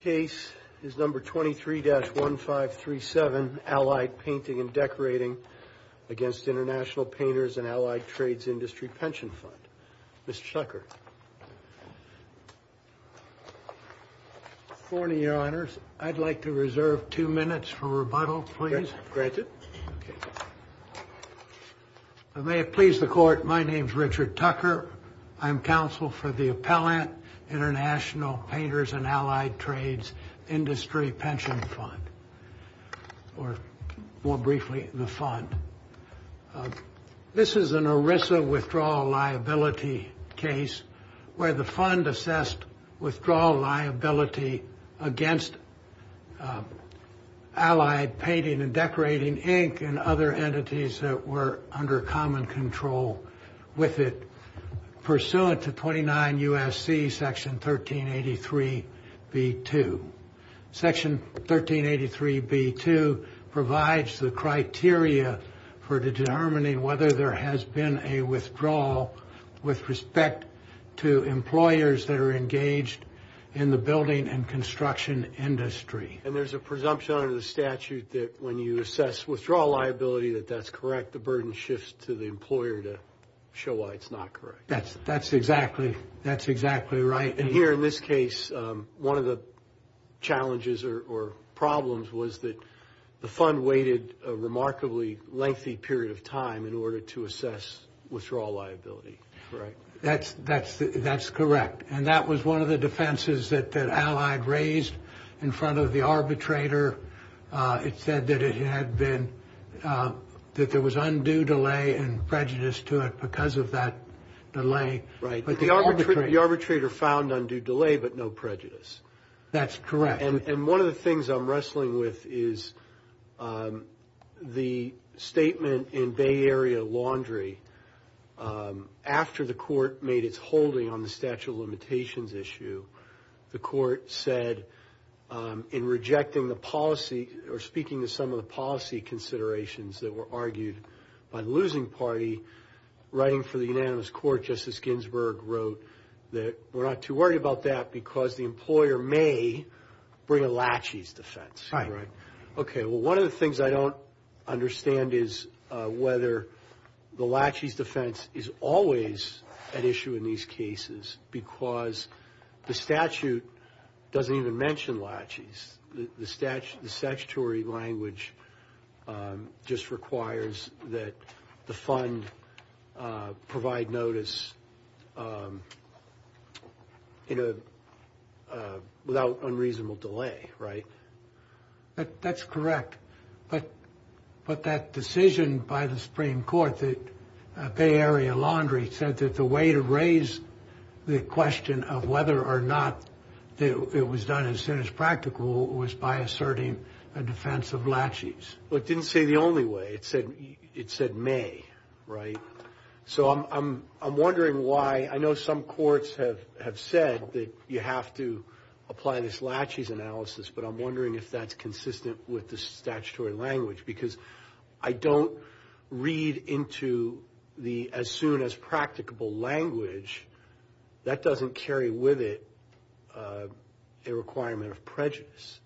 Case is number 23-1537, Allied Painting and Decorating against International Painters and Allied Trades Industry Pension Fund. Mr. Tucker. Good morning, Your Honors. I'd like to reserve two minutes for rebuttal, please. Granted. May it please the Court, my name's Richard Tucker. I'm counsel for the Appellant International Painters and Allied Trades Industry Pension Fund, or more briefly, the fund. This is an ERISA withdrawal liability case where the fund assessed withdrawal liability against Allied Painting and Decorating Inc. and other entities that were under common control with it pursuant to 29 U.S.C. Section 1383 B.2. Section 1383 B.2 provides the criteria for determining whether there has been a withdrawal with respect to employers that are engaged in the building and construction industry. And there's a presumption under the statute that when you assess withdrawal liability, that that's correct, the burden shifts to the employer to show why it's not correct. That's exactly right. And here in this case, one of the challenges or problems was that the fund waited a remarkably lengthy period of time in order to assess withdrawal liability, correct? That's correct. And that was one of the defenses that Allied raised in front of the arbitrator. It said that it had been, that there was undue delay and prejudice to it because of that delay. Right. The arbitrator found undue delay but no prejudice. That's correct. And one of the things I'm wrestling with is the statement in Bay Area Laundry. After the court made its holding on the statute of limitations issue, the court said in rejecting the policy or speaking to some of the policy considerations that were argued by the losing party, writing for the unanimous court, Justice Ginsburg wrote that we're not too worried about that because the employer may bring a laches defense. Right. Okay. Well, one of the things I don't understand is whether the laches defense is always an issue in these cases because the statute doesn't even mention laches. The statutory language just requires that the fund provide notice, you know, without unreasonable delay. Right. That's correct. But that decision by the Supreme Court, the Bay Area Laundry, said that the way to raise the question of whether or not it was done as soon as practical was by asserting a defense of laches. Well, it didn't say the only way. It said may. Right. So I'm wondering why. I know some courts have said that you have to apply this laches analysis, but I'm wondering if that's consistent with the statutory language. Because I don't read into the as soon as practicable language. That doesn't carry with it a requirement of prejudice.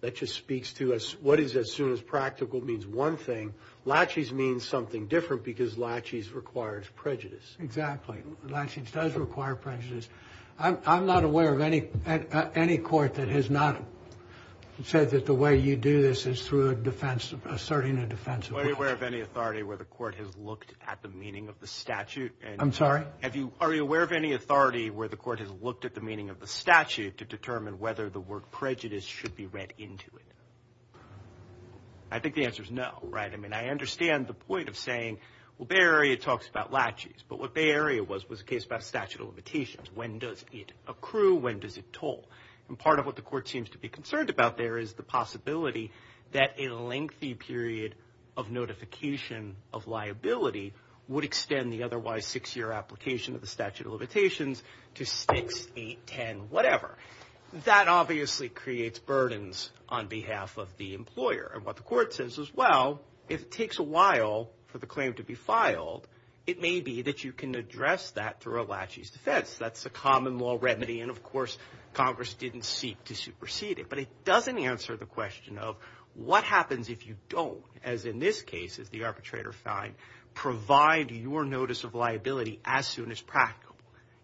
That just speaks to what is as soon as practical means one thing. Laches means something different because laches requires prejudice. Exactly. Laches does require prejudice. I'm not aware of any court that has not said that the way you do this is through a defense of asserting a defense of laches. Are you aware of any authority where the court has looked at the meaning of the statute? I'm sorry? Are you aware of any authority where the court has looked at the meaning of the statute to determine whether the word prejudice should be read into it? I think the answer is no. Right. I mean, I understand the point of saying, well, Bay Area talks about laches. But what Bay Area was was a case about statute of limitations. When does it accrue? When does it toll? And part of what the court seems to be concerned about there is the possibility that a lengthy period of notification of liability would extend the otherwise six year application of the statute of limitations to six, eight, ten, whatever. That obviously creates burdens on behalf of the employer. And what the court says is, well, if it takes a while for the claim to be filed, it may be that you can address that through a laches defense. That's a common law remedy. And of course, Congress didn't seek to supersede it. But it doesn't answer the question of what happens if you don't, as in this case is the arbitrator fine, provide your notice of liability as soon as practical.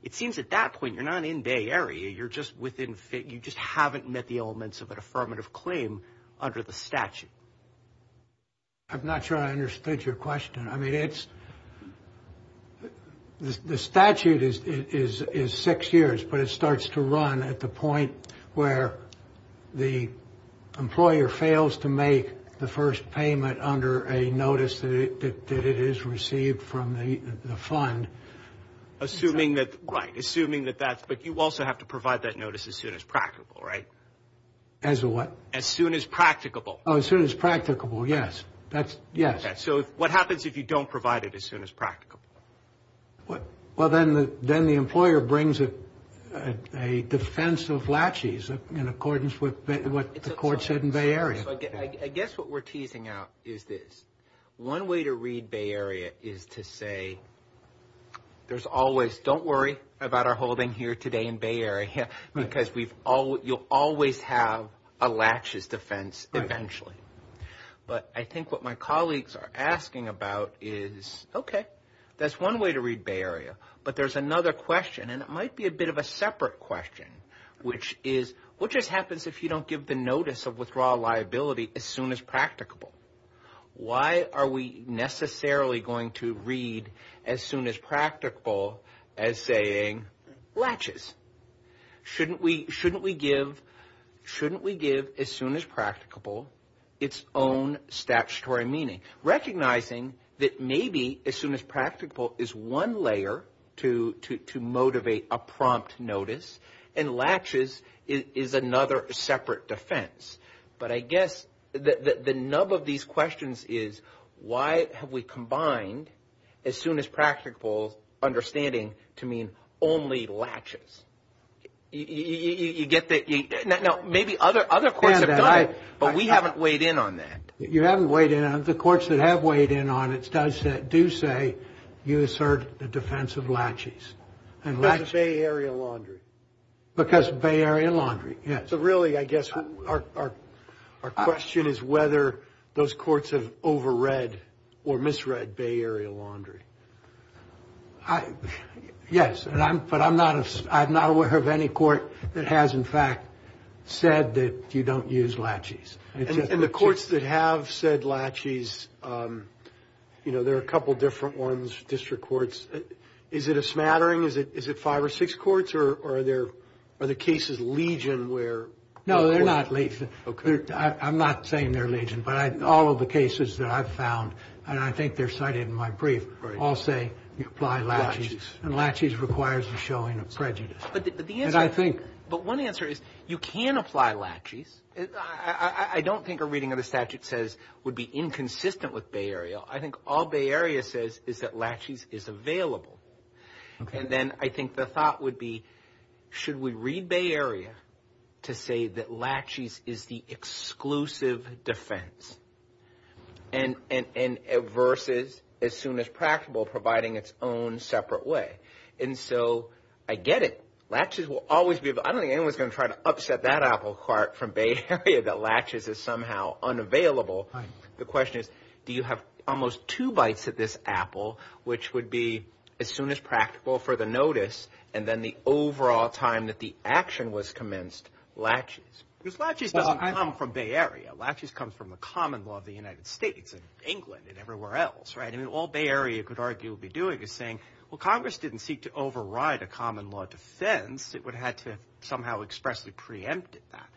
It seems at that point you're not in Bay Area. You're just within fit. You just haven't met the elements of an affirmative claim under the statute. I'm not sure I understood your question. I mean, it's the statute is is is six years, but it starts to run at the point where the employer fails to make the first payment under a notice that it is received from the fund. Assuming that. Right. Assuming that that's. But you also have to provide that notice as soon as practical. Right. As a what? As soon as practicable. Oh, as soon as practicable. Yes, that's. Yes. So what happens if you don't provide it as soon as practical? What? Well, then then the employer brings a defense of laches in accordance with what the court said in Bay Area. I guess what we're teasing out is this one way to read Bay Area is to say there's always don't worry about our holding here today in Bay Area because we've all you'll always have a laches defense eventually. But I think what my colleagues are asking about is, OK, that's one way to read Bay Area. But there's another question and it might be a bit of a separate question, which is what just happens if you don't give the notice of withdrawal liability as soon as practicable? Why are we necessarily going to read as soon as practical as saying laches? Shouldn't we shouldn't we give shouldn't we give as soon as practicable its own statutory meaning, recognizing that maybe as soon as practicable is one layer to to to motivate a prompt notice and laches is another separate defense. But I guess the nub of these questions is why have we combined as soon as practical understanding to mean only laches? You get that now maybe other other courts have died, but we haven't weighed in on that. You haven't weighed in on the courts that have weighed in on it. Does that do say you assert the defense of laches and lachey area laundry because Bay Area laundry? Yeah. So really, I guess our our our question is whether those courts have over read or misread Bay Area laundry. Yes. And I'm but I'm not I'm not aware of any court that has, in fact, said that you don't use laches. And the courts that have said laches, you know, there are a couple of different ones, district courts. Is it a smattering? Is it is it five or six courts or are there are the cases legion where? No, they're not. I'm not saying they're legion, but all of the cases that I've found and I think they're cited in my brief. All say you apply laches and laches requires the showing of prejudice. But I think but one answer is you can apply laches. I don't think a reading of the statute says would be inconsistent with Bay Area. I think all Bay Area says is that laches is available. And then I think the thought would be, should we read Bay Area to say that laches is the exclusive defense? And and versus as soon as practical, providing its own separate way. And so I get it. Latches will always be. I don't think anyone's going to try to upset that apple cart from Bay Area that latches is somehow unavailable. The question is, do you have almost two bites at this apple, which would be as soon as practical for the notice? And then the overall time that the action was commenced, latches, which latches doesn't come from Bay Area. Latches comes from a common law of the United States and England and everywhere else. Right. And all Bay Area could argue be doing is saying, well, Congress didn't seek to override a common law defense. It would have to somehow expressly preempted that.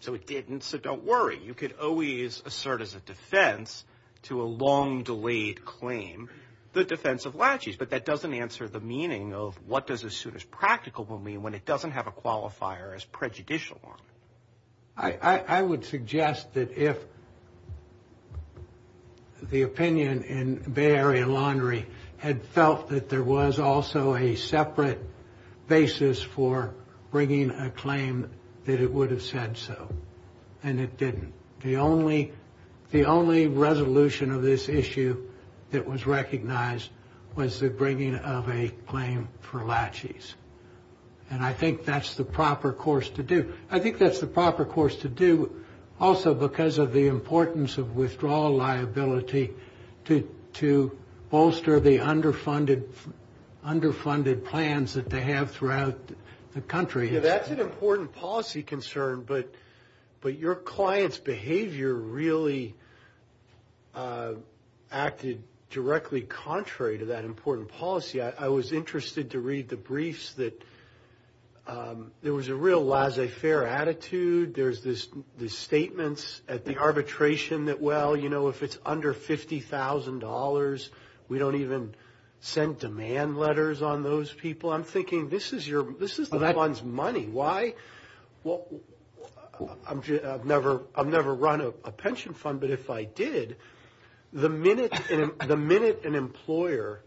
So it didn't. So don't worry. You could always assert as a defense to a long delayed claim the defense of latches. But that doesn't answer the meaning of what does as soon as practical will mean when it doesn't have a qualifier as prejudicial. I would suggest that if the opinion in Bay Area Laundry had felt that there was also a separate basis for bringing a claim that it would have said so. And it didn't. The only the only resolution of this issue that was recognized was the bringing of a claim for latches. And I think that's the proper course to do. I think that's the proper course to do also because of the importance of withdrawal liability to to bolster the underfunded underfunded plans that they have throughout the country. That's an important policy concern. But but your clients behavior really acted directly contrary to that important policy. I was interested to read the briefs that there was a real laissez faire attitude. There's this the statements at the arbitration that, well, you know, if it's under fifty thousand dollars, we don't even send demand letters on those people. I'm thinking this is your this is that one's money. Why? Well, I've never I've never run a pension fund. But if I did, the minute the minute an employer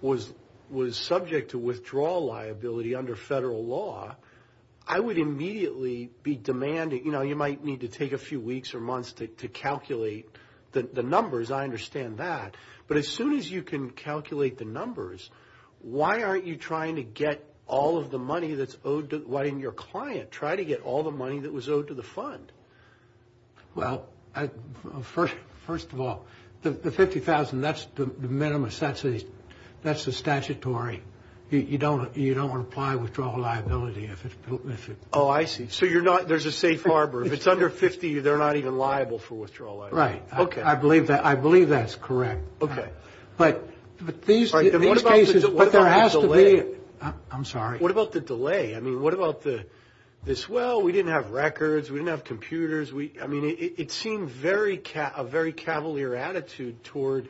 was was subject to withdrawal liability under federal law, I would immediately be demanding. You know, you might need to take a few weeks or months to calculate the numbers. I understand that. But as soon as you can calculate the numbers, why aren't you trying to get all of the money that's owed? Why didn't your client try to get all the money that was owed to the fund? Well, first, first of all, the fifty thousand, that's the minimum. That's a that's a statutory. You don't you don't apply withdrawal liability. Oh, I see. So you're not there's a safe harbor. If it's under 50, they're not even liable for withdrawal. Right. OK. I believe that. I believe that's correct. OK. But but these are cases where there has to be. I'm sorry. What about the delay? I mean, what about the this? Well, we didn't have records. We didn't have computers. We I mean, it seemed very a very cavalier attitude toward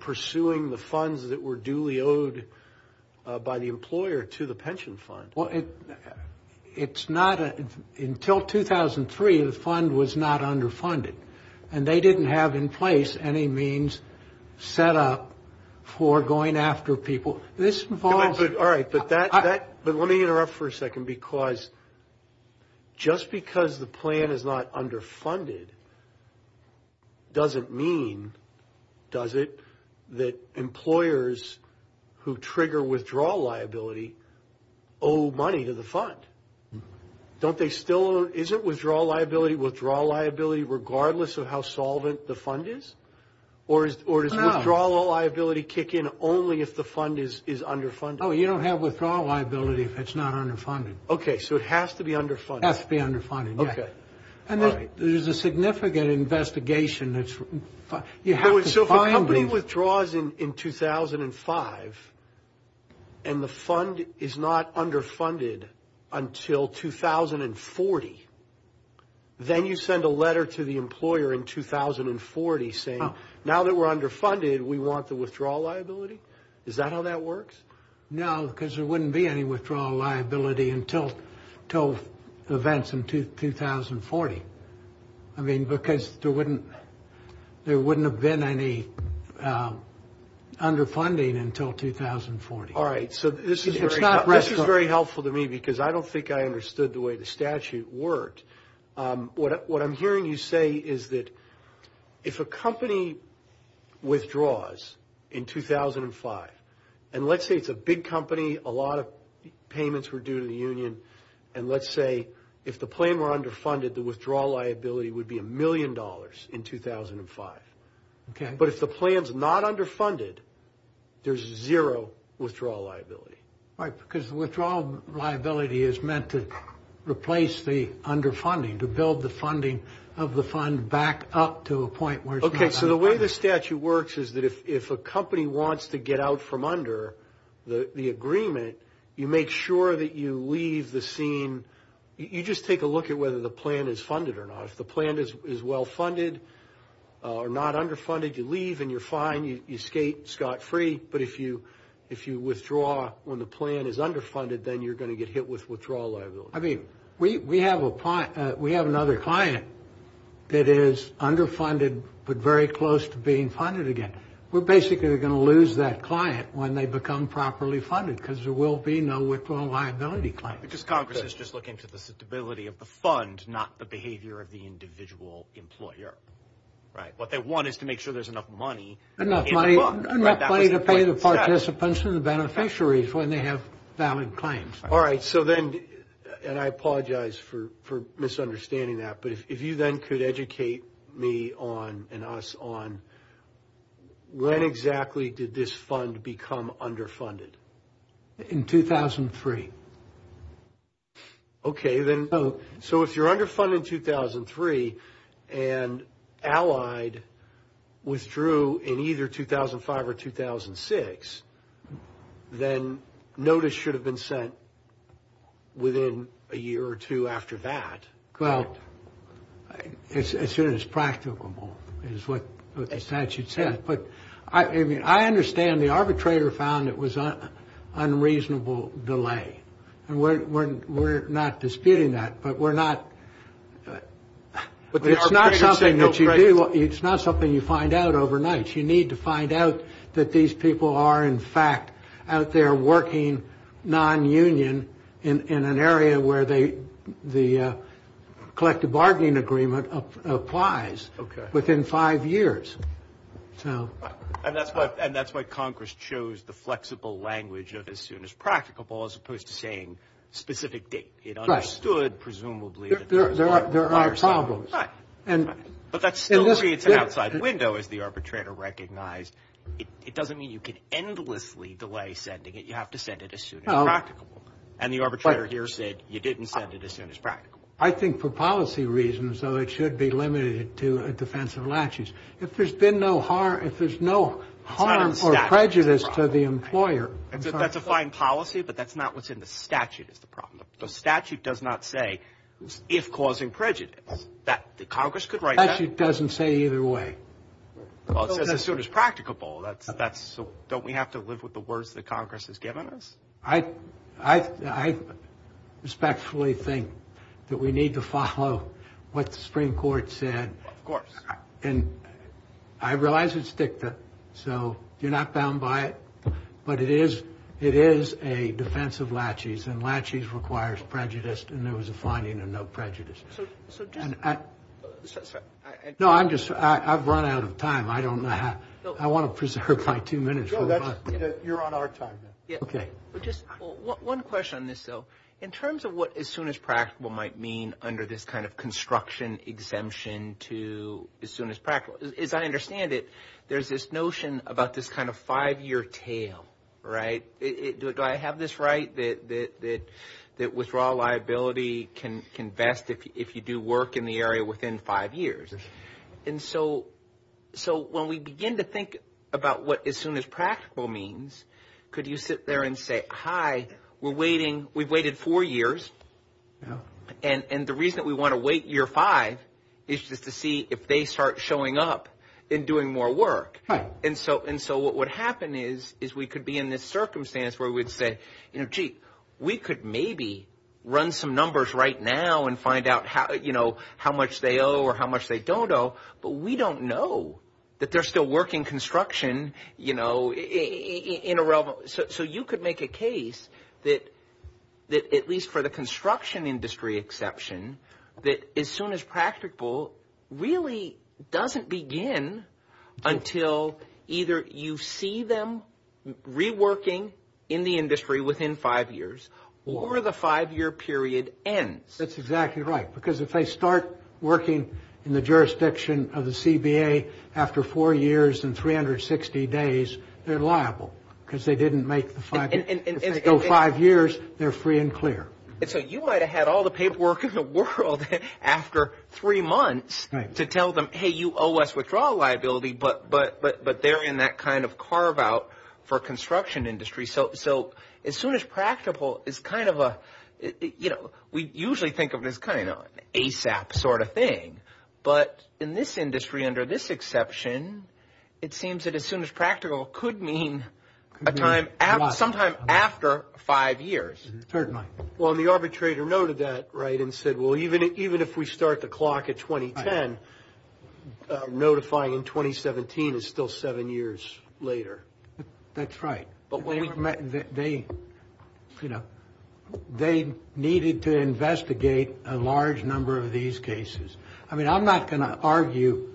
pursuing the funds that were duly owed by the employer to the pension fund. Well, it's not until 2003, the fund was not underfunded and they didn't have in place any means set up for going after people. This involves. All right. But that but let me interrupt for a second, because just because the plan is not underfunded. Doesn't mean, does it, that employers who trigger withdrawal liability owe money to the fund? Don't they still? Is it withdrawal liability? Withdrawal liability, regardless of how solvent the fund is or is or is withdrawal liability kick in only if the fund is underfunded? Oh, you don't have withdrawal liability if it's not underfunded. OK, so it has to be underfunded. It has to be underfunded. OK. And there's a significant investigation that you have. So if a company withdraws in 2005 and the fund is not underfunded until 2040, then you send a letter to the employer in 2040 saying now that we're underfunded, we want the withdrawal liability. Is that how that works? No, because there wouldn't be any withdrawal liability until events in 2040. I mean, because there wouldn't there wouldn't have been any underfunding until 2040. All right. So this is not right. It's very helpful to me because I don't think I understood the way the statute worked. What I'm hearing you say is that if a company withdraws in 2005 and let's say it's a big company, a lot of payments were due to the union. And let's say if the plan were underfunded, the withdrawal liability would be a million dollars in 2005. But if the plan's not underfunded, there's zero withdrawal liability. Right, because the withdrawal liability is meant to replace the underfunding, to build the funding of the fund back up to a point where it's not underfunded. OK, so the way the statute works is that if a company wants to get out from under the agreement, you make sure that you leave the scene. You just take a look at whether the plan is funded or not. If the plan is well funded or not underfunded, you leave and you're fine. You skate scot-free. But if you withdraw when the plan is underfunded, then you're going to get hit with withdrawal liability. I mean, we have another client that is underfunded but very close to being funded again. We're basically going to lose that client when they become properly funded because there will be no withdrawal liability claim. Because Congress is just looking for the stability of the fund, not the behavior of the individual employer. Right, what they want is to make sure there's enough money in the fund. Enough money to pay the participants and the beneficiaries when they have valid claims. All right, so then, and I apologize for misunderstanding that, but if you then could educate me on, and us on, when exactly did this fund become underfunded? In 2003. Okay, so if you're underfunded in 2003 and Allied withdrew in either 2005 or 2006, then notice should have been sent within a year or two after that. Well, as soon as practicable is what the statute says. I mean, I understand the arbitrator found it was unreasonable delay. And we're not disputing that, but we're not. It's not something that you do. It's not something you find out overnight. You need to find out that these people are, in fact, out there working nonunion in an area where the collective bargaining agreement applies. Within five years. And that's why Congress chose the flexible language of as soon as practicable as opposed to saying specific date. It understood, presumably. There are problems. But that still creates an outside window, as the arbitrator recognized. It doesn't mean you can endlessly delay sending it. You have to send it as soon as practicable. I think for policy reasons, though, it should be limited to a defense of latches. If there's been no harm, if there's no harm or prejudice to the employer. That's a fine policy, but that's not what's in the statute is the problem. The statute does not say if causing prejudice that the Congress could write. It doesn't say either way. As soon as practicable. That's that's. So don't we have to live with the words that Congress has given us? I respectfully think that we need to follow what the Supreme Court said. Of course. And I realize it's dicta. So you're not bound by it. But it is it is a defense of latches and latches requires prejudice. And there was a finding of no prejudice. So. No, I'm just I've run out of time. I don't know how I want to preserve my two minutes. You're on our time. OK. Just one question on this, though. In terms of what as soon as practical might mean under this kind of construction exemption to as soon as practical, as I understand it, there's this notion about this kind of five year tail. Right. Do I have this right that that that withdrawal liability can invest if you do work in the area within five years? And so so when we begin to think about what as soon as practical means, could you sit there and say, hi, we're waiting. We've waited four years now. And the reason that we want to wait year five is just to see if they start showing up in doing more work. And so and so what would happen is, is we could be in this circumstance where we'd say, you know, gee, we could maybe run some numbers right now and find out how, you know, how much they owe or how much they don't know. But we don't know that they're still working construction, you know, in a row. So you could make a case that that at least for the construction industry exception, that as soon as practical really doesn't begin until either you see them reworking in the industry within five years or the five year period ends. That's exactly right, because if they start working in the jurisdiction of the CBA after four years and 360 days, they're liable because they didn't make the five years. They're free and clear. So you might have had all the paperwork in the world after three months to tell them, hey, you owe us withdrawal liability. But but but they're in that kind of carve out for construction industry. So so as soon as practical is kind of a, you know, we usually think of this kind of ASAP sort of thing. But in this industry, under this exception, it seems that as soon as practical could mean a time sometime after five years. Certainly. Well, the arbitrator noted that. Right. And said, well, even even if we start the clock at 2010, notifying in 2017 is still seven years later. That's right. But they, you know, they needed to investigate a large number of these cases. I mean, I'm not going to argue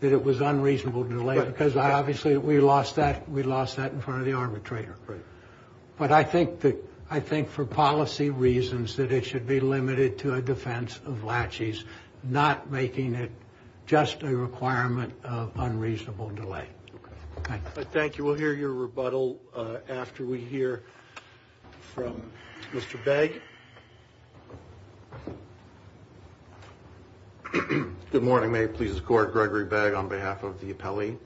that it was unreasonable delay because I obviously we lost that. We lost that in front of the arbitrator. But I think that I think for policy reasons that it should be limited to a defense of latches, not making it just a requirement of unreasonable delay. Thank you. We'll hear your rebuttal after we hear from Mr. Bag. Good morning. May it please the court. Gregory bag on behalf of the appellee.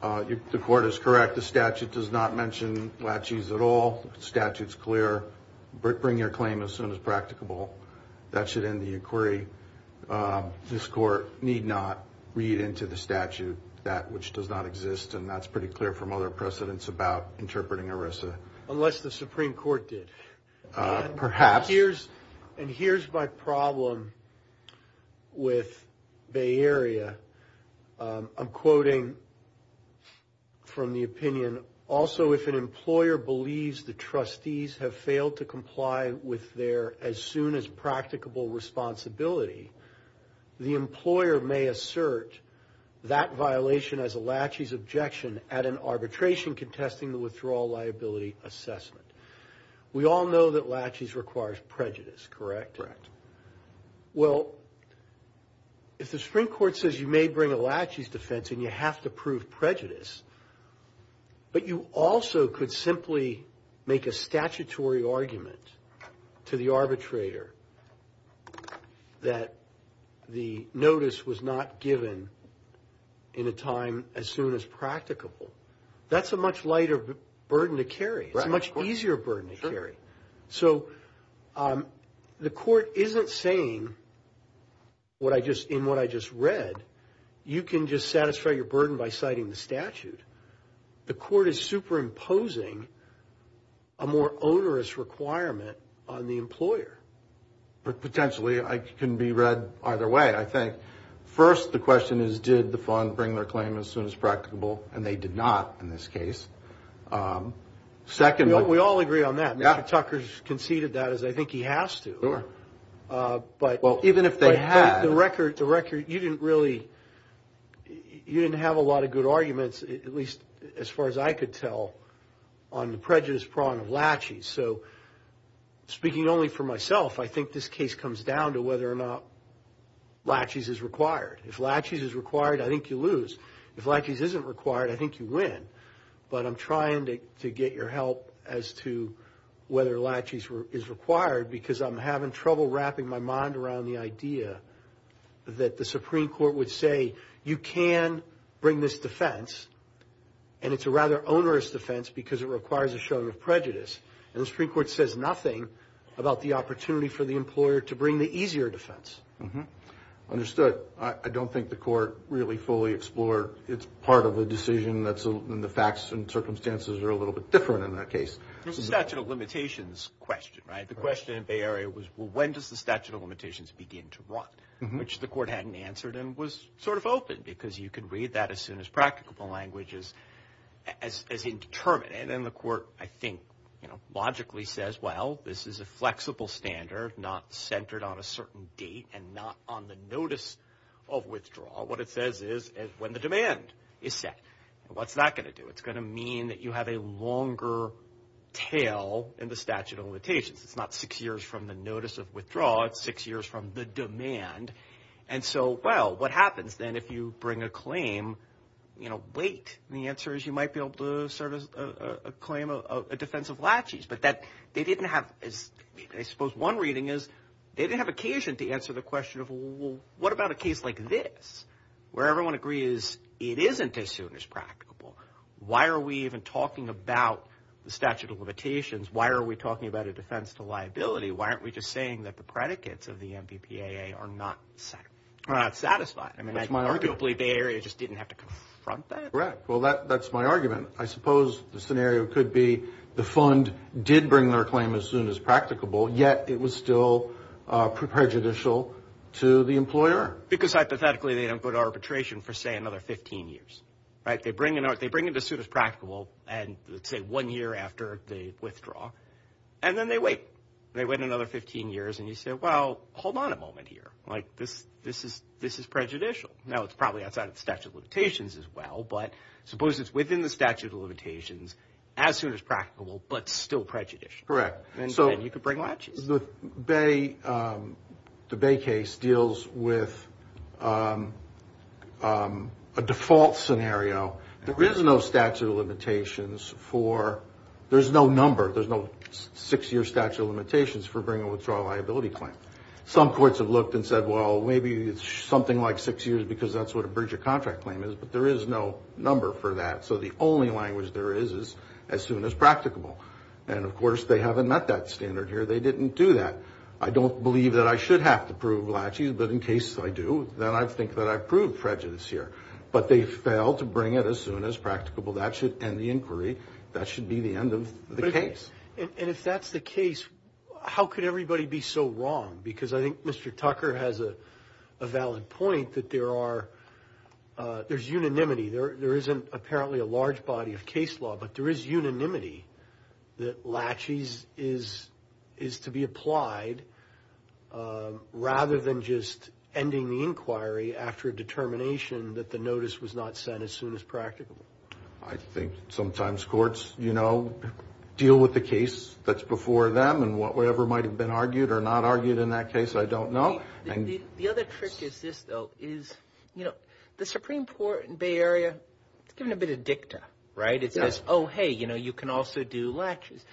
The court is correct. The statute does not mention latches at all. Statutes clear. Bring your claim as soon as practicable. That should end the inquiry. This court need not read into the statute that which does not exist. And that's pretty clear from other precedents about interpreting Arisa unless the Supreme Court did perhaps. Here's and here's my problem with Bay Area. I'm quoting from the opinion. Also, if an employer believes the trustees have failed to comply with their as soon as practicable responsibility, the employer may assert that violation as a latches objection at an arbitration contesting the withdrawal liability assessment. We all know that latches requires prejudice, correct? Correct. Well, if the Supreme Court says you may bring a latches defense and you have to prove prejudice, but you also could simply make a statutory argument to the arbitrator that the notice was not given in a time as soon as practicable. That's a much lighter burden to carry. It's much easier burden to carry. So the court isn't saying what I just in what I just read. You can just satisfy your burden by citing the statute. The court is superimposing a more onerous requirement on the employer. Potentially, I can be read either way, I think. First, the question is, did the fund bring their claim as soon as practicable? And they did not in this case. Second, we all agree on that. Tucker's conceded that as I think he has to. But even if they had the record, the record, you didn't really you didn't have a lot of good arguments, at least as far as I could tell, on the prejudice prong of latches. So speaking only for myself, I think this case comes down to whether or not latches is required. If latches is required, I think you lose. If latches isn't required, I think you win. But I'm trying to get your help as to whether latches is required because I'm having trouble wrapping my mind around the idea that the Supreme Court would say, you can bring this defense, and it's a rather onerous defense because it requires a showing of prejudice. And the Supreme Court says nothing about the opportunity for the employer to bring the easier defense. Understood. I don't think the court really fully explored its part of the decision. And the facts and circumstances are a little bit different in that case. There's a statute of limitations question, right? The question in the Bay Area was, well, when does the statute of limitations begin to run, which the court hadn't answered and was sort of open because you could read that as soon as practicable language is indeterminate. And then the court, I think, you know, logically says, well, this is a flexible standard, not centered on a certain date and not on the notice of withdrawal. What it says is when the demand is set. What's that going to do? It's going to mean that you have a longer tail in the statute of limitations. It's not six years from the notice of withdrawal. It's six years from the demand. And so, well, what happens then if you bring a claim, you know, wait? And the answer is you might be able to serve a claim of a defense of laches. But they didn't have, I suppose one reading is they didn't have occasion to answer the question of, well, what about a case like this where everyone agrees it isn't as soon as practicable? Why are we even talking about the statute of limitations? Why are we talking about a defense to liability? Why aren't we just saying that the predicates of the MVPAA are not satisfied? I mean, arguably, Bay Area just didn't have to confront that. Correct. Well, that's my argument. I suppose the scenario could be the fund did bring their claim as soon as practicable, yet it was still prejudicial to the employer. Because, hypothetically, they don't go to arbitration for, say, another 15 years, right? They bring it as soon as practicable and, say, one year after they withdraw, and then they wait. They wait another 15 years, and you say, well, hold on a moment here. Like, this is prejudicial. Now, it's probably outside of the statute of limitations as well, but suppose it's within the statute of limitations, as soon as practicable, but still prejudicial. Correct. And then you could bring latches. The Bay case deals with a default scenario. There is no statute of limitations for – there's no number. There's no six-year statute of limitations for bringing a withdrawal liability claim. Some courts have looked and said, well, maybe it's something like six years because that's what a Bridger contract claim is, but there is no number for that. So the only language there is is as soon as practicable. And, of course, they haven't met that standard here. They didn't do that. I don't believe that I should have to prove latches, but in case I do, then I think that I've proved prejudice here. But they failed to bring it as soon as practicable. That should end the inquiry. That should be the end of the case. And if that's the case, how could everybody be so wrong? Because I think Mr. Tucker has a valid point that there's unanimity. There isn't apparently a large body of case law, but there is unanimity that latches is to be applied rather than just ending the inquiry after a determination that the notice was not sent as soon as practicable. I think sometimes courts, you know, deal with the case that's before them and whatever might have been argued or not argued in that case, I don't know. The other trick is this, though, is, you know, the Supreme Court in the Bay Area, it's given a bit of dicta, right? It says, oh, hey, you know, you can also do latches.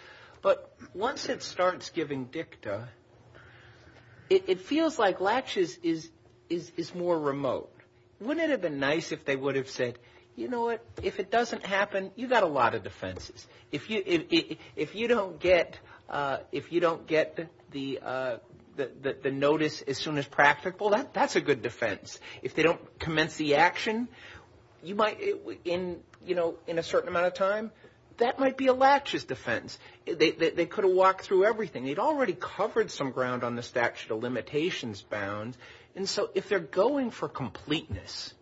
But once it starts giving dicta, it feels like latches is more remote. Wouldn't it have been nice if they would have said, you know what, if it doesn't happen, you've got a lot of defenses. If you don't get the notice as soon as practicable, that's a good defense. If they don't commence the action, you might, you know, in a certain amount of time, that might be a latches defense. They could have walked through everything. They'd already covered some ground on the statute of limitations bound, and so if they're going for completeness,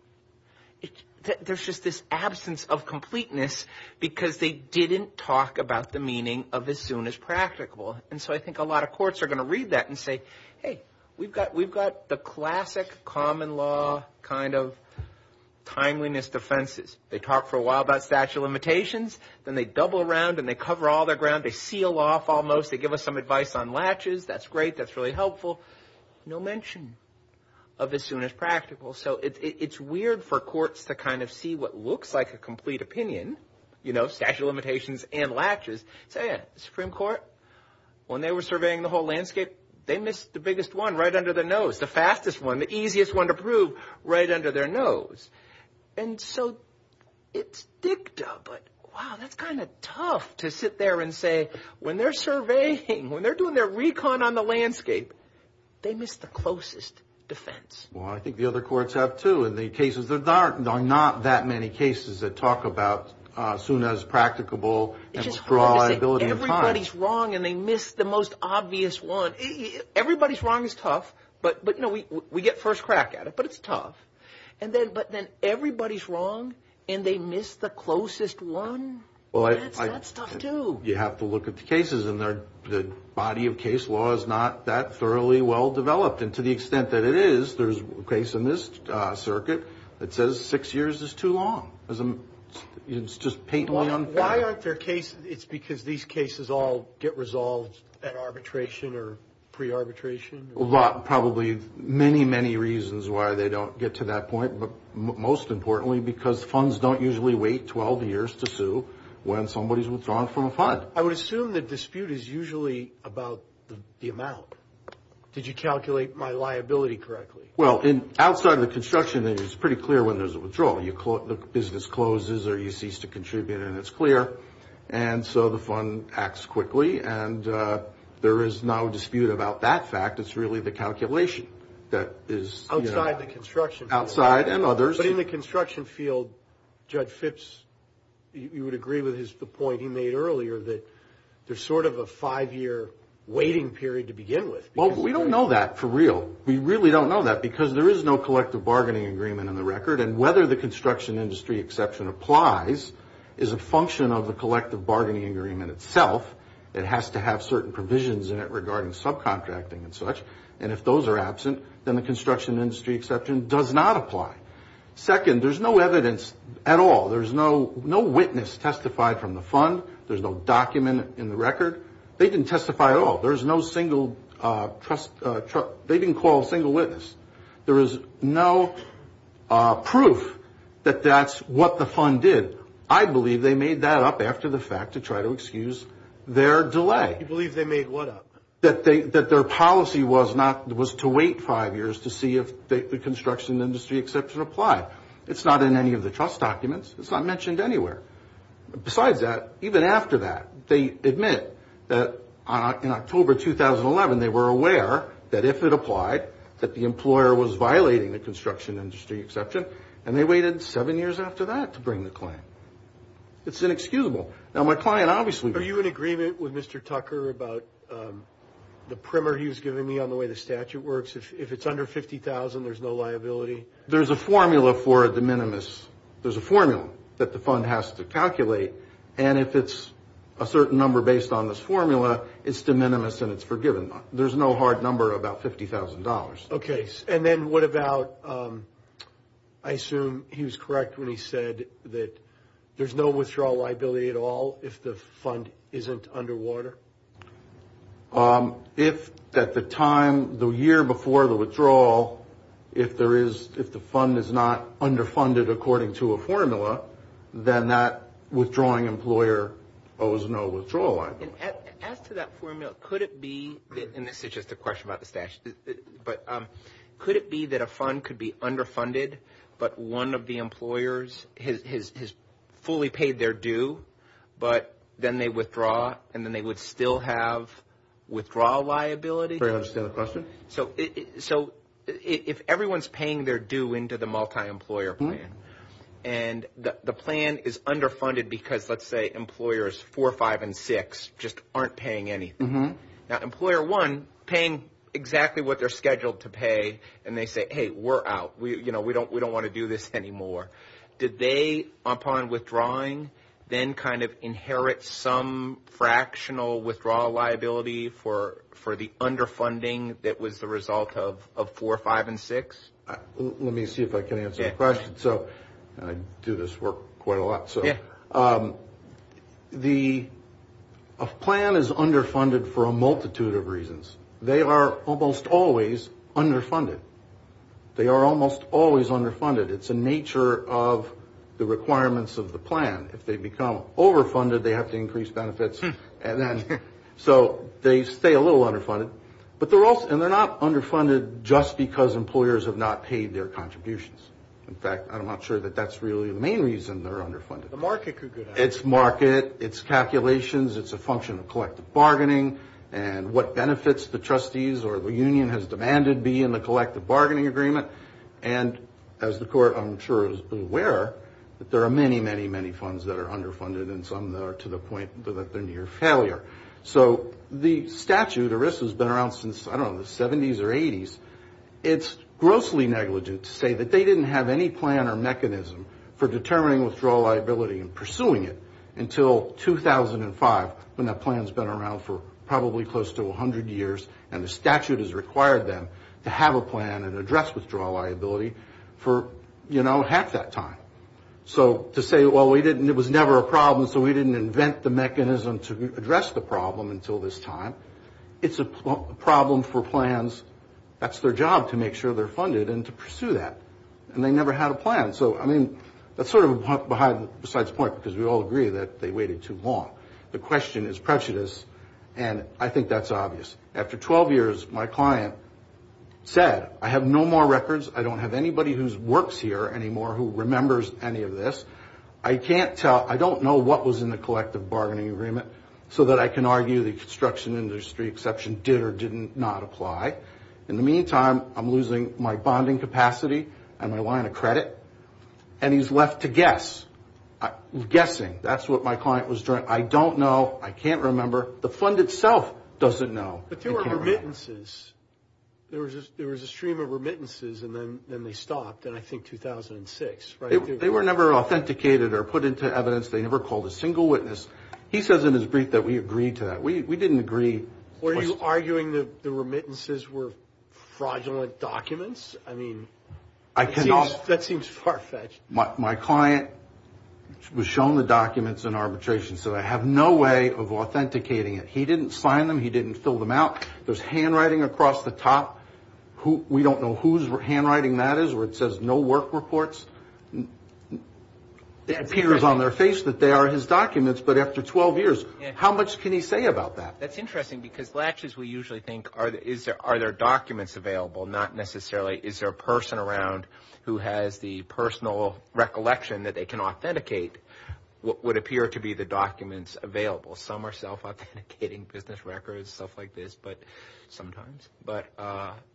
there's just this absence of completeness because they didn't talk about the meaning of as soon as practicable. And so I think a lot of courts are going to read that and say, hey, we've got the classic common law kind of timeliness defenses. They talk for a while about statute of limitations. Then they double around and they cover all their ground. They seal off almost. They give us some advice on latches. That's great. That's really helpful. No mention of as soon as practical. So it's weird for courts to kind of see what looks like a complete opinion, you know, statute of limitations and latches. Say a Supreme Court, when they were surveying the whole landscape, they missed the biggest one right under the nose, the fastest one, the easiest one to prove right under their nose. And so it's dicta, but, wow, that's kind of tough to sit there and say when they're surveying, when they're doing their recon on the landscape, they missed the closest defense. Well, I think the other courts have, too, and the cases are not that many cases that talk about as soon as practicable. It's just hard to say everybody's wrong and they missed the most obvious one. Everybody's wrong is tough, but, you know, we get first crack at it, but it's tough. But then everybody's wrong and they missed the closest one? That's tough, too. So you have to look at the cases, and the body of case law is not that thoroughly well-developed. And to the extent that it is, there's a case in this circuit that says six years is too long. It's just patently unfair. Why aren't there cases? It's because these cases all get resolved at arbitration or pre-arbitration? Well, probably many, many reasons why they don't get to that point, but most importantly because funds don't usually wait 12 years to sue when somebody's withdrawn from a fund. I would assume the dispute is usually about the amount. Did you calculate my liability correctly? Well, outside of the construction, it's pretty clear when there's a withdrawal. The business closes or you cease to contribute, and it's clear. And so the fund acts quickly, and there is no dispute about that fact. It's really the calculation that is, you know. Outside the construction. Outside and others. But in the construction field, Judge Phipps, you would agree with the point he made earlier that there's sort of a five-year waiting period to begin with. Well, we don't know that for real. We really don't know that because there is no collective bargaining agreement in the record, and whether the construction industry exception applies is a function of the collective bargaining agreement itself. It has to have certain provisions in it regarding subcontracting and such, and if those are absent, then the construction industry exception does not apply. Second, there's no evidence at all. There's no witness testified from the fund. There's no document in the record. They didn't testify at all. There's no single trust. They didn't call a single witness. There is no proof that that's what the fund did. I believe they made that up after the fact to try to excuse their delay. You believe they made what up? That their policy was to wait five years to see if the construction industry exception applied. It's not in any of the trust documents. It's not mentioned anywhere. Besides that, even after that, they admit that in October 2011, they were aware that if it applied, that the employer was violating the construction industry exception, and they waited seven years after that to bring the claim. It's inexcusable. Are you in agreement with Mr. Tucker about the primer he was giving me on the way the statute works? If it's under $50,000, there's no liability? There's a formula for a de minimis. There's a formula that the fund has to calculate, and if it's a certain number based on this formula, it's de minimis and it's forgiven. There's no hard number about $50,000. Okay. And then what about, I assume he was correct when he said that there's no withdrawal liability at all if the fund isn't underwater? If at the time, the year before the withdrawal, if the fund is not underfunded according to a formula, then that withdrawing employer owes no withdrawal liability. As to that formula, could it be, and this is just a question about the statute, but could it be that a fund could be underfunded, but one of the employers has fully paid their due, but then they withdraw and then they would still have withdrawal liability? I don't understand the question. So if everyone's paying their due into the multi-employer plan, and the plan is underfunded because, let's say, employers four, five, and six just aren't paying anything. Now, employer one paying exactly what they're scheduled to pay, and they say, hey, we're out. We don't want to do this anymore. Did they, upon withdrawing, then kind of inherit some fractional withdrawal liability for the underfunding that was the result of four, five, and six? Let me see if I can answer the question. So I do this work quite a lot. A plan is underfunded for a multitude of reasons. They are almost always underfunded. They are almost always underfunded. It's a nature of the requirements of the plan. If they become overfunded, they have to increase benefits. So they stay a little underfunded. And they're not underfunded just because employers have not paid their contributions. In fact, I'm not sure that that's really the main reason they're underfunded. The market could go down. It's market. It's calculations. It's a function of collective bargaining and what benefits the trustees or the union has demanded be in the collective bargaining agreement. And as the Court, I'm sure, is aware that there are many, many, many funds that are underfunded, and some that are to the point that they're near failure. So the statute, or this has been around since, I don't know, the 70s or 80s, it's grossly negligent to say that they didn't have any plan or mechanism for determining withdrawal liability and pursuing it until 2005, when that plan's been around for probably close to 100 years, and the statute has required them to have a plan and address withdrawal liability for, you know, half that time. So to say, well, it was never a problem, so we didn't invent the mechanism to address the problem until this time, it's a problem for plans. That's their job to make sure they're funded and to pursue that, and they never had a plan. So, I mean, that's sort of a besides point because we all agree that they waited too long. The question is prejudice, and I think that's obvious. After 12 years, my client said, I have no more records. I don't have anybody who works here anymore who remembers any of this. I don't know what was in the collective bargaining agreement, so that I can argue the construction industry exception did or did not apply. In the meantime, I'm losing my bonding capacity and my line of credit, and he's left to guess, guessing. That's what my client was doing. I don't know. I can't remember. The fund itself doesn't know. But there were remittances. There was a stream of remittances, and then they stopped in, I think, 2006, right? They were never authenticated or put into evidence. They never called a single witness. He says in his brief that we agreed to that. We didn't agree. Were you arguing the remittances were fraudulent documents? I mean, that seems far-fetched. My client was shown the documents in arbitration, so I have no way of authenticating it. He didn't sign them. He didn't fill them out. There's handwriting across the top. We don't know whose handwriting that is where it says no work reports. It appears on their face that they are his documents, but after 12 years, how much can he say about that? That's interesting because latches, we usually think, are there documents available? Not necessarily. Is there a person around who has the personal recollection that they can authenticate what would appear to be the documents available? Some are self-authenticating business records, stuff like this, sometimes.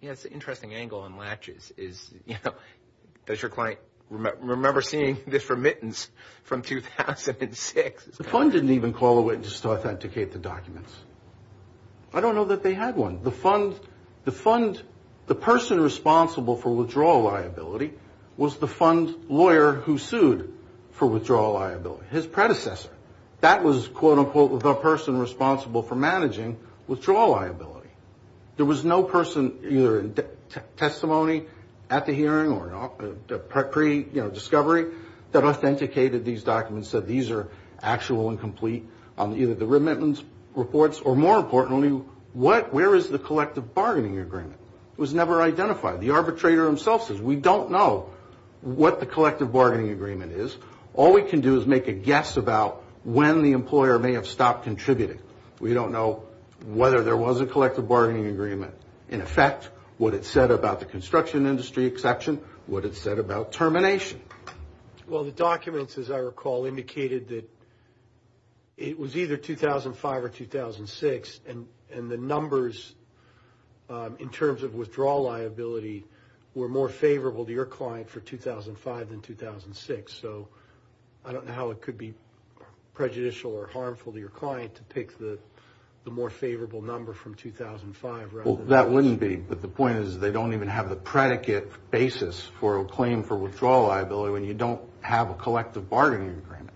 It's an interesting angle on latches. Does your client remember seeing this remittance from 2006? The fund didn't even call a witness to authenticate the documents. I don't know that they had one. The fund, the person responsible for withdrawal liability was the fund lawyer who sued for withdrawal liability, his predecessor. That was, quote, unquote, the person responsible for managing withdrawal liability. There was no person either in testimony at the hearing or pre-discovery that authenticated these documents, said these are actual and complete on either the remittance reports or, more importantly, where is the collective bargaining agreement? It was never identified. The arbitrator himself says we don't know what the collective bargaining agreement is. All we can do is make a guess about when the employer may have stopped contributing. We don't know whether there was a collective bargaining agreement in effect, what it said about the construction industry exception, what it said about termination. Well, the documents, as I recall, indicated that it was either 2005 or 2006, and the numbers in terms of withdrawal liability were more favorable to your client for 2005 than 2006. So I don't know how it could be prejudicial or harmful to your client to pick the more favorable number from 2005. Well, that wouldn't be. But the point is they don't even have the predicate basis for a claim for withdrawal liability when you don't have a collective bargaining agreement,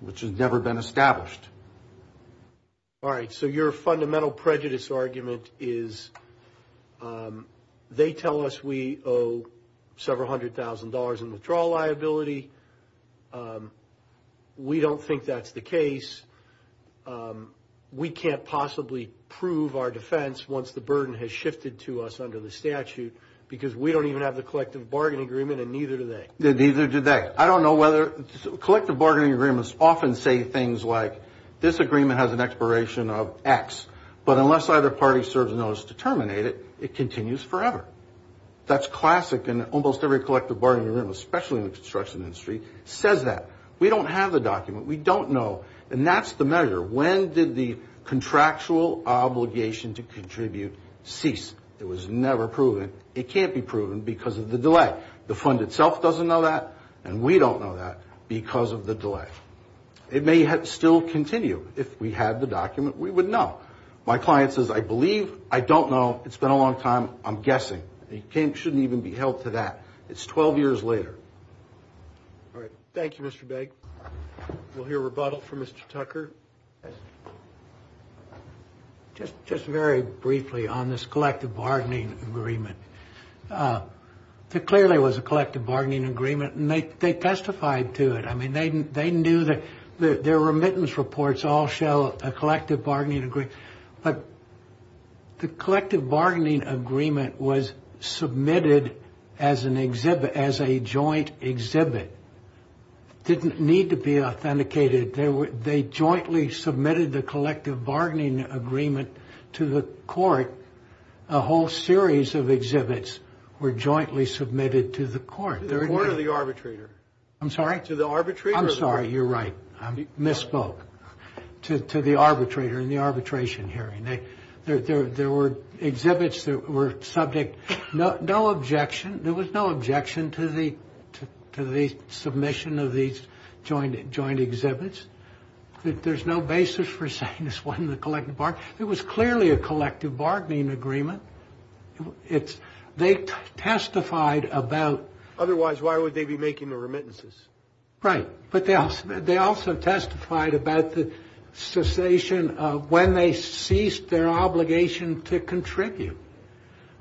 which has never been established. All right. So your fundamental prejudice argument is they tell us we owe several hundred thousand dollars in withdrawal liability. We don't think that's the case. We can't possibly prove our defense once the burden has shifted to us under the statute because we don't even have the collective bargaining agreement and neither do they. Neither do they. Collective bargaining agreements often say things like this agreement has an expiration of X, but unless either party serves notice to terminate it, it continues forever. That's classic in almost every collective bargaining agreement, especially in the construction industry, says that. We don't have the document. We don't know. And that's the measure. When did the contractual obligation to contribute cease? It was never proven. It can't be proven because of the delay. The fund itself doesn't know that, and we don't know that because of the delay. It may still continue. If we had the document, we would know. My client says, I believe. I don't know. It's been a long time. I'm guessing. It shouldn't even be held to that. It's 12 years later. All right. Thank you, Mr. Begg. We'll hear rebuttal from Mr. Tucker. Just very briefly on this collective bargaining agreement. There clearly was a collective bargaining agreement, and they testified to it. I mean, they knew that their remittance reports all show a collective bargaining agreement, but the collective bargaining agreement was submitted as a joint exhibit. It didn't need to be authenticated. They jointly submitted the collective bargaining agreement to the court. A whole series of exhibits were jointly submitted to the court. To the court or the arbitrator? I'm sorry? To the arbitrator. I'm sorry. You're right. I misspoke. To the arbitrator in the arbitration hearing. There were exhibits that were subject. No objection. There was no objection to the submission of these joint exhibits. There's no basis for saying this wasn't a collective bargaining agreement. It was clearly a collective bargaining agreement. They testified about. Otherwise, why would they be making the remittances? Right. But they also testified about the cessation of when they ceased their obligation to contribute.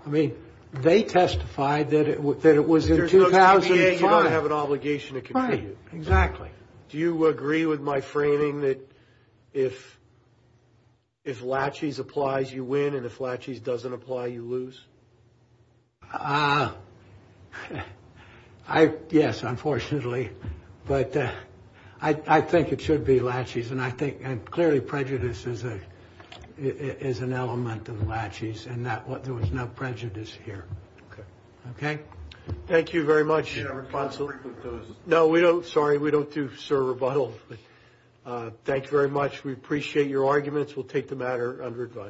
I mean, they testified that it was in 2005. You don't have an obligation to contribute. Right. Exactly. Do you agree with my framing that if laches applies, you win, and if laches doesn't apply, you lose? Yes, unfortunately. But I think it should be laches. And I think clearly prejudice is an element of laches, and there was no prejudice here. Okay. Okay? Thank you very much, counsel. No, we don't. Sorry. We don't do, sir, rebuttals. But thank you very much. We appreciate your arguments. We'll take the matter under advice.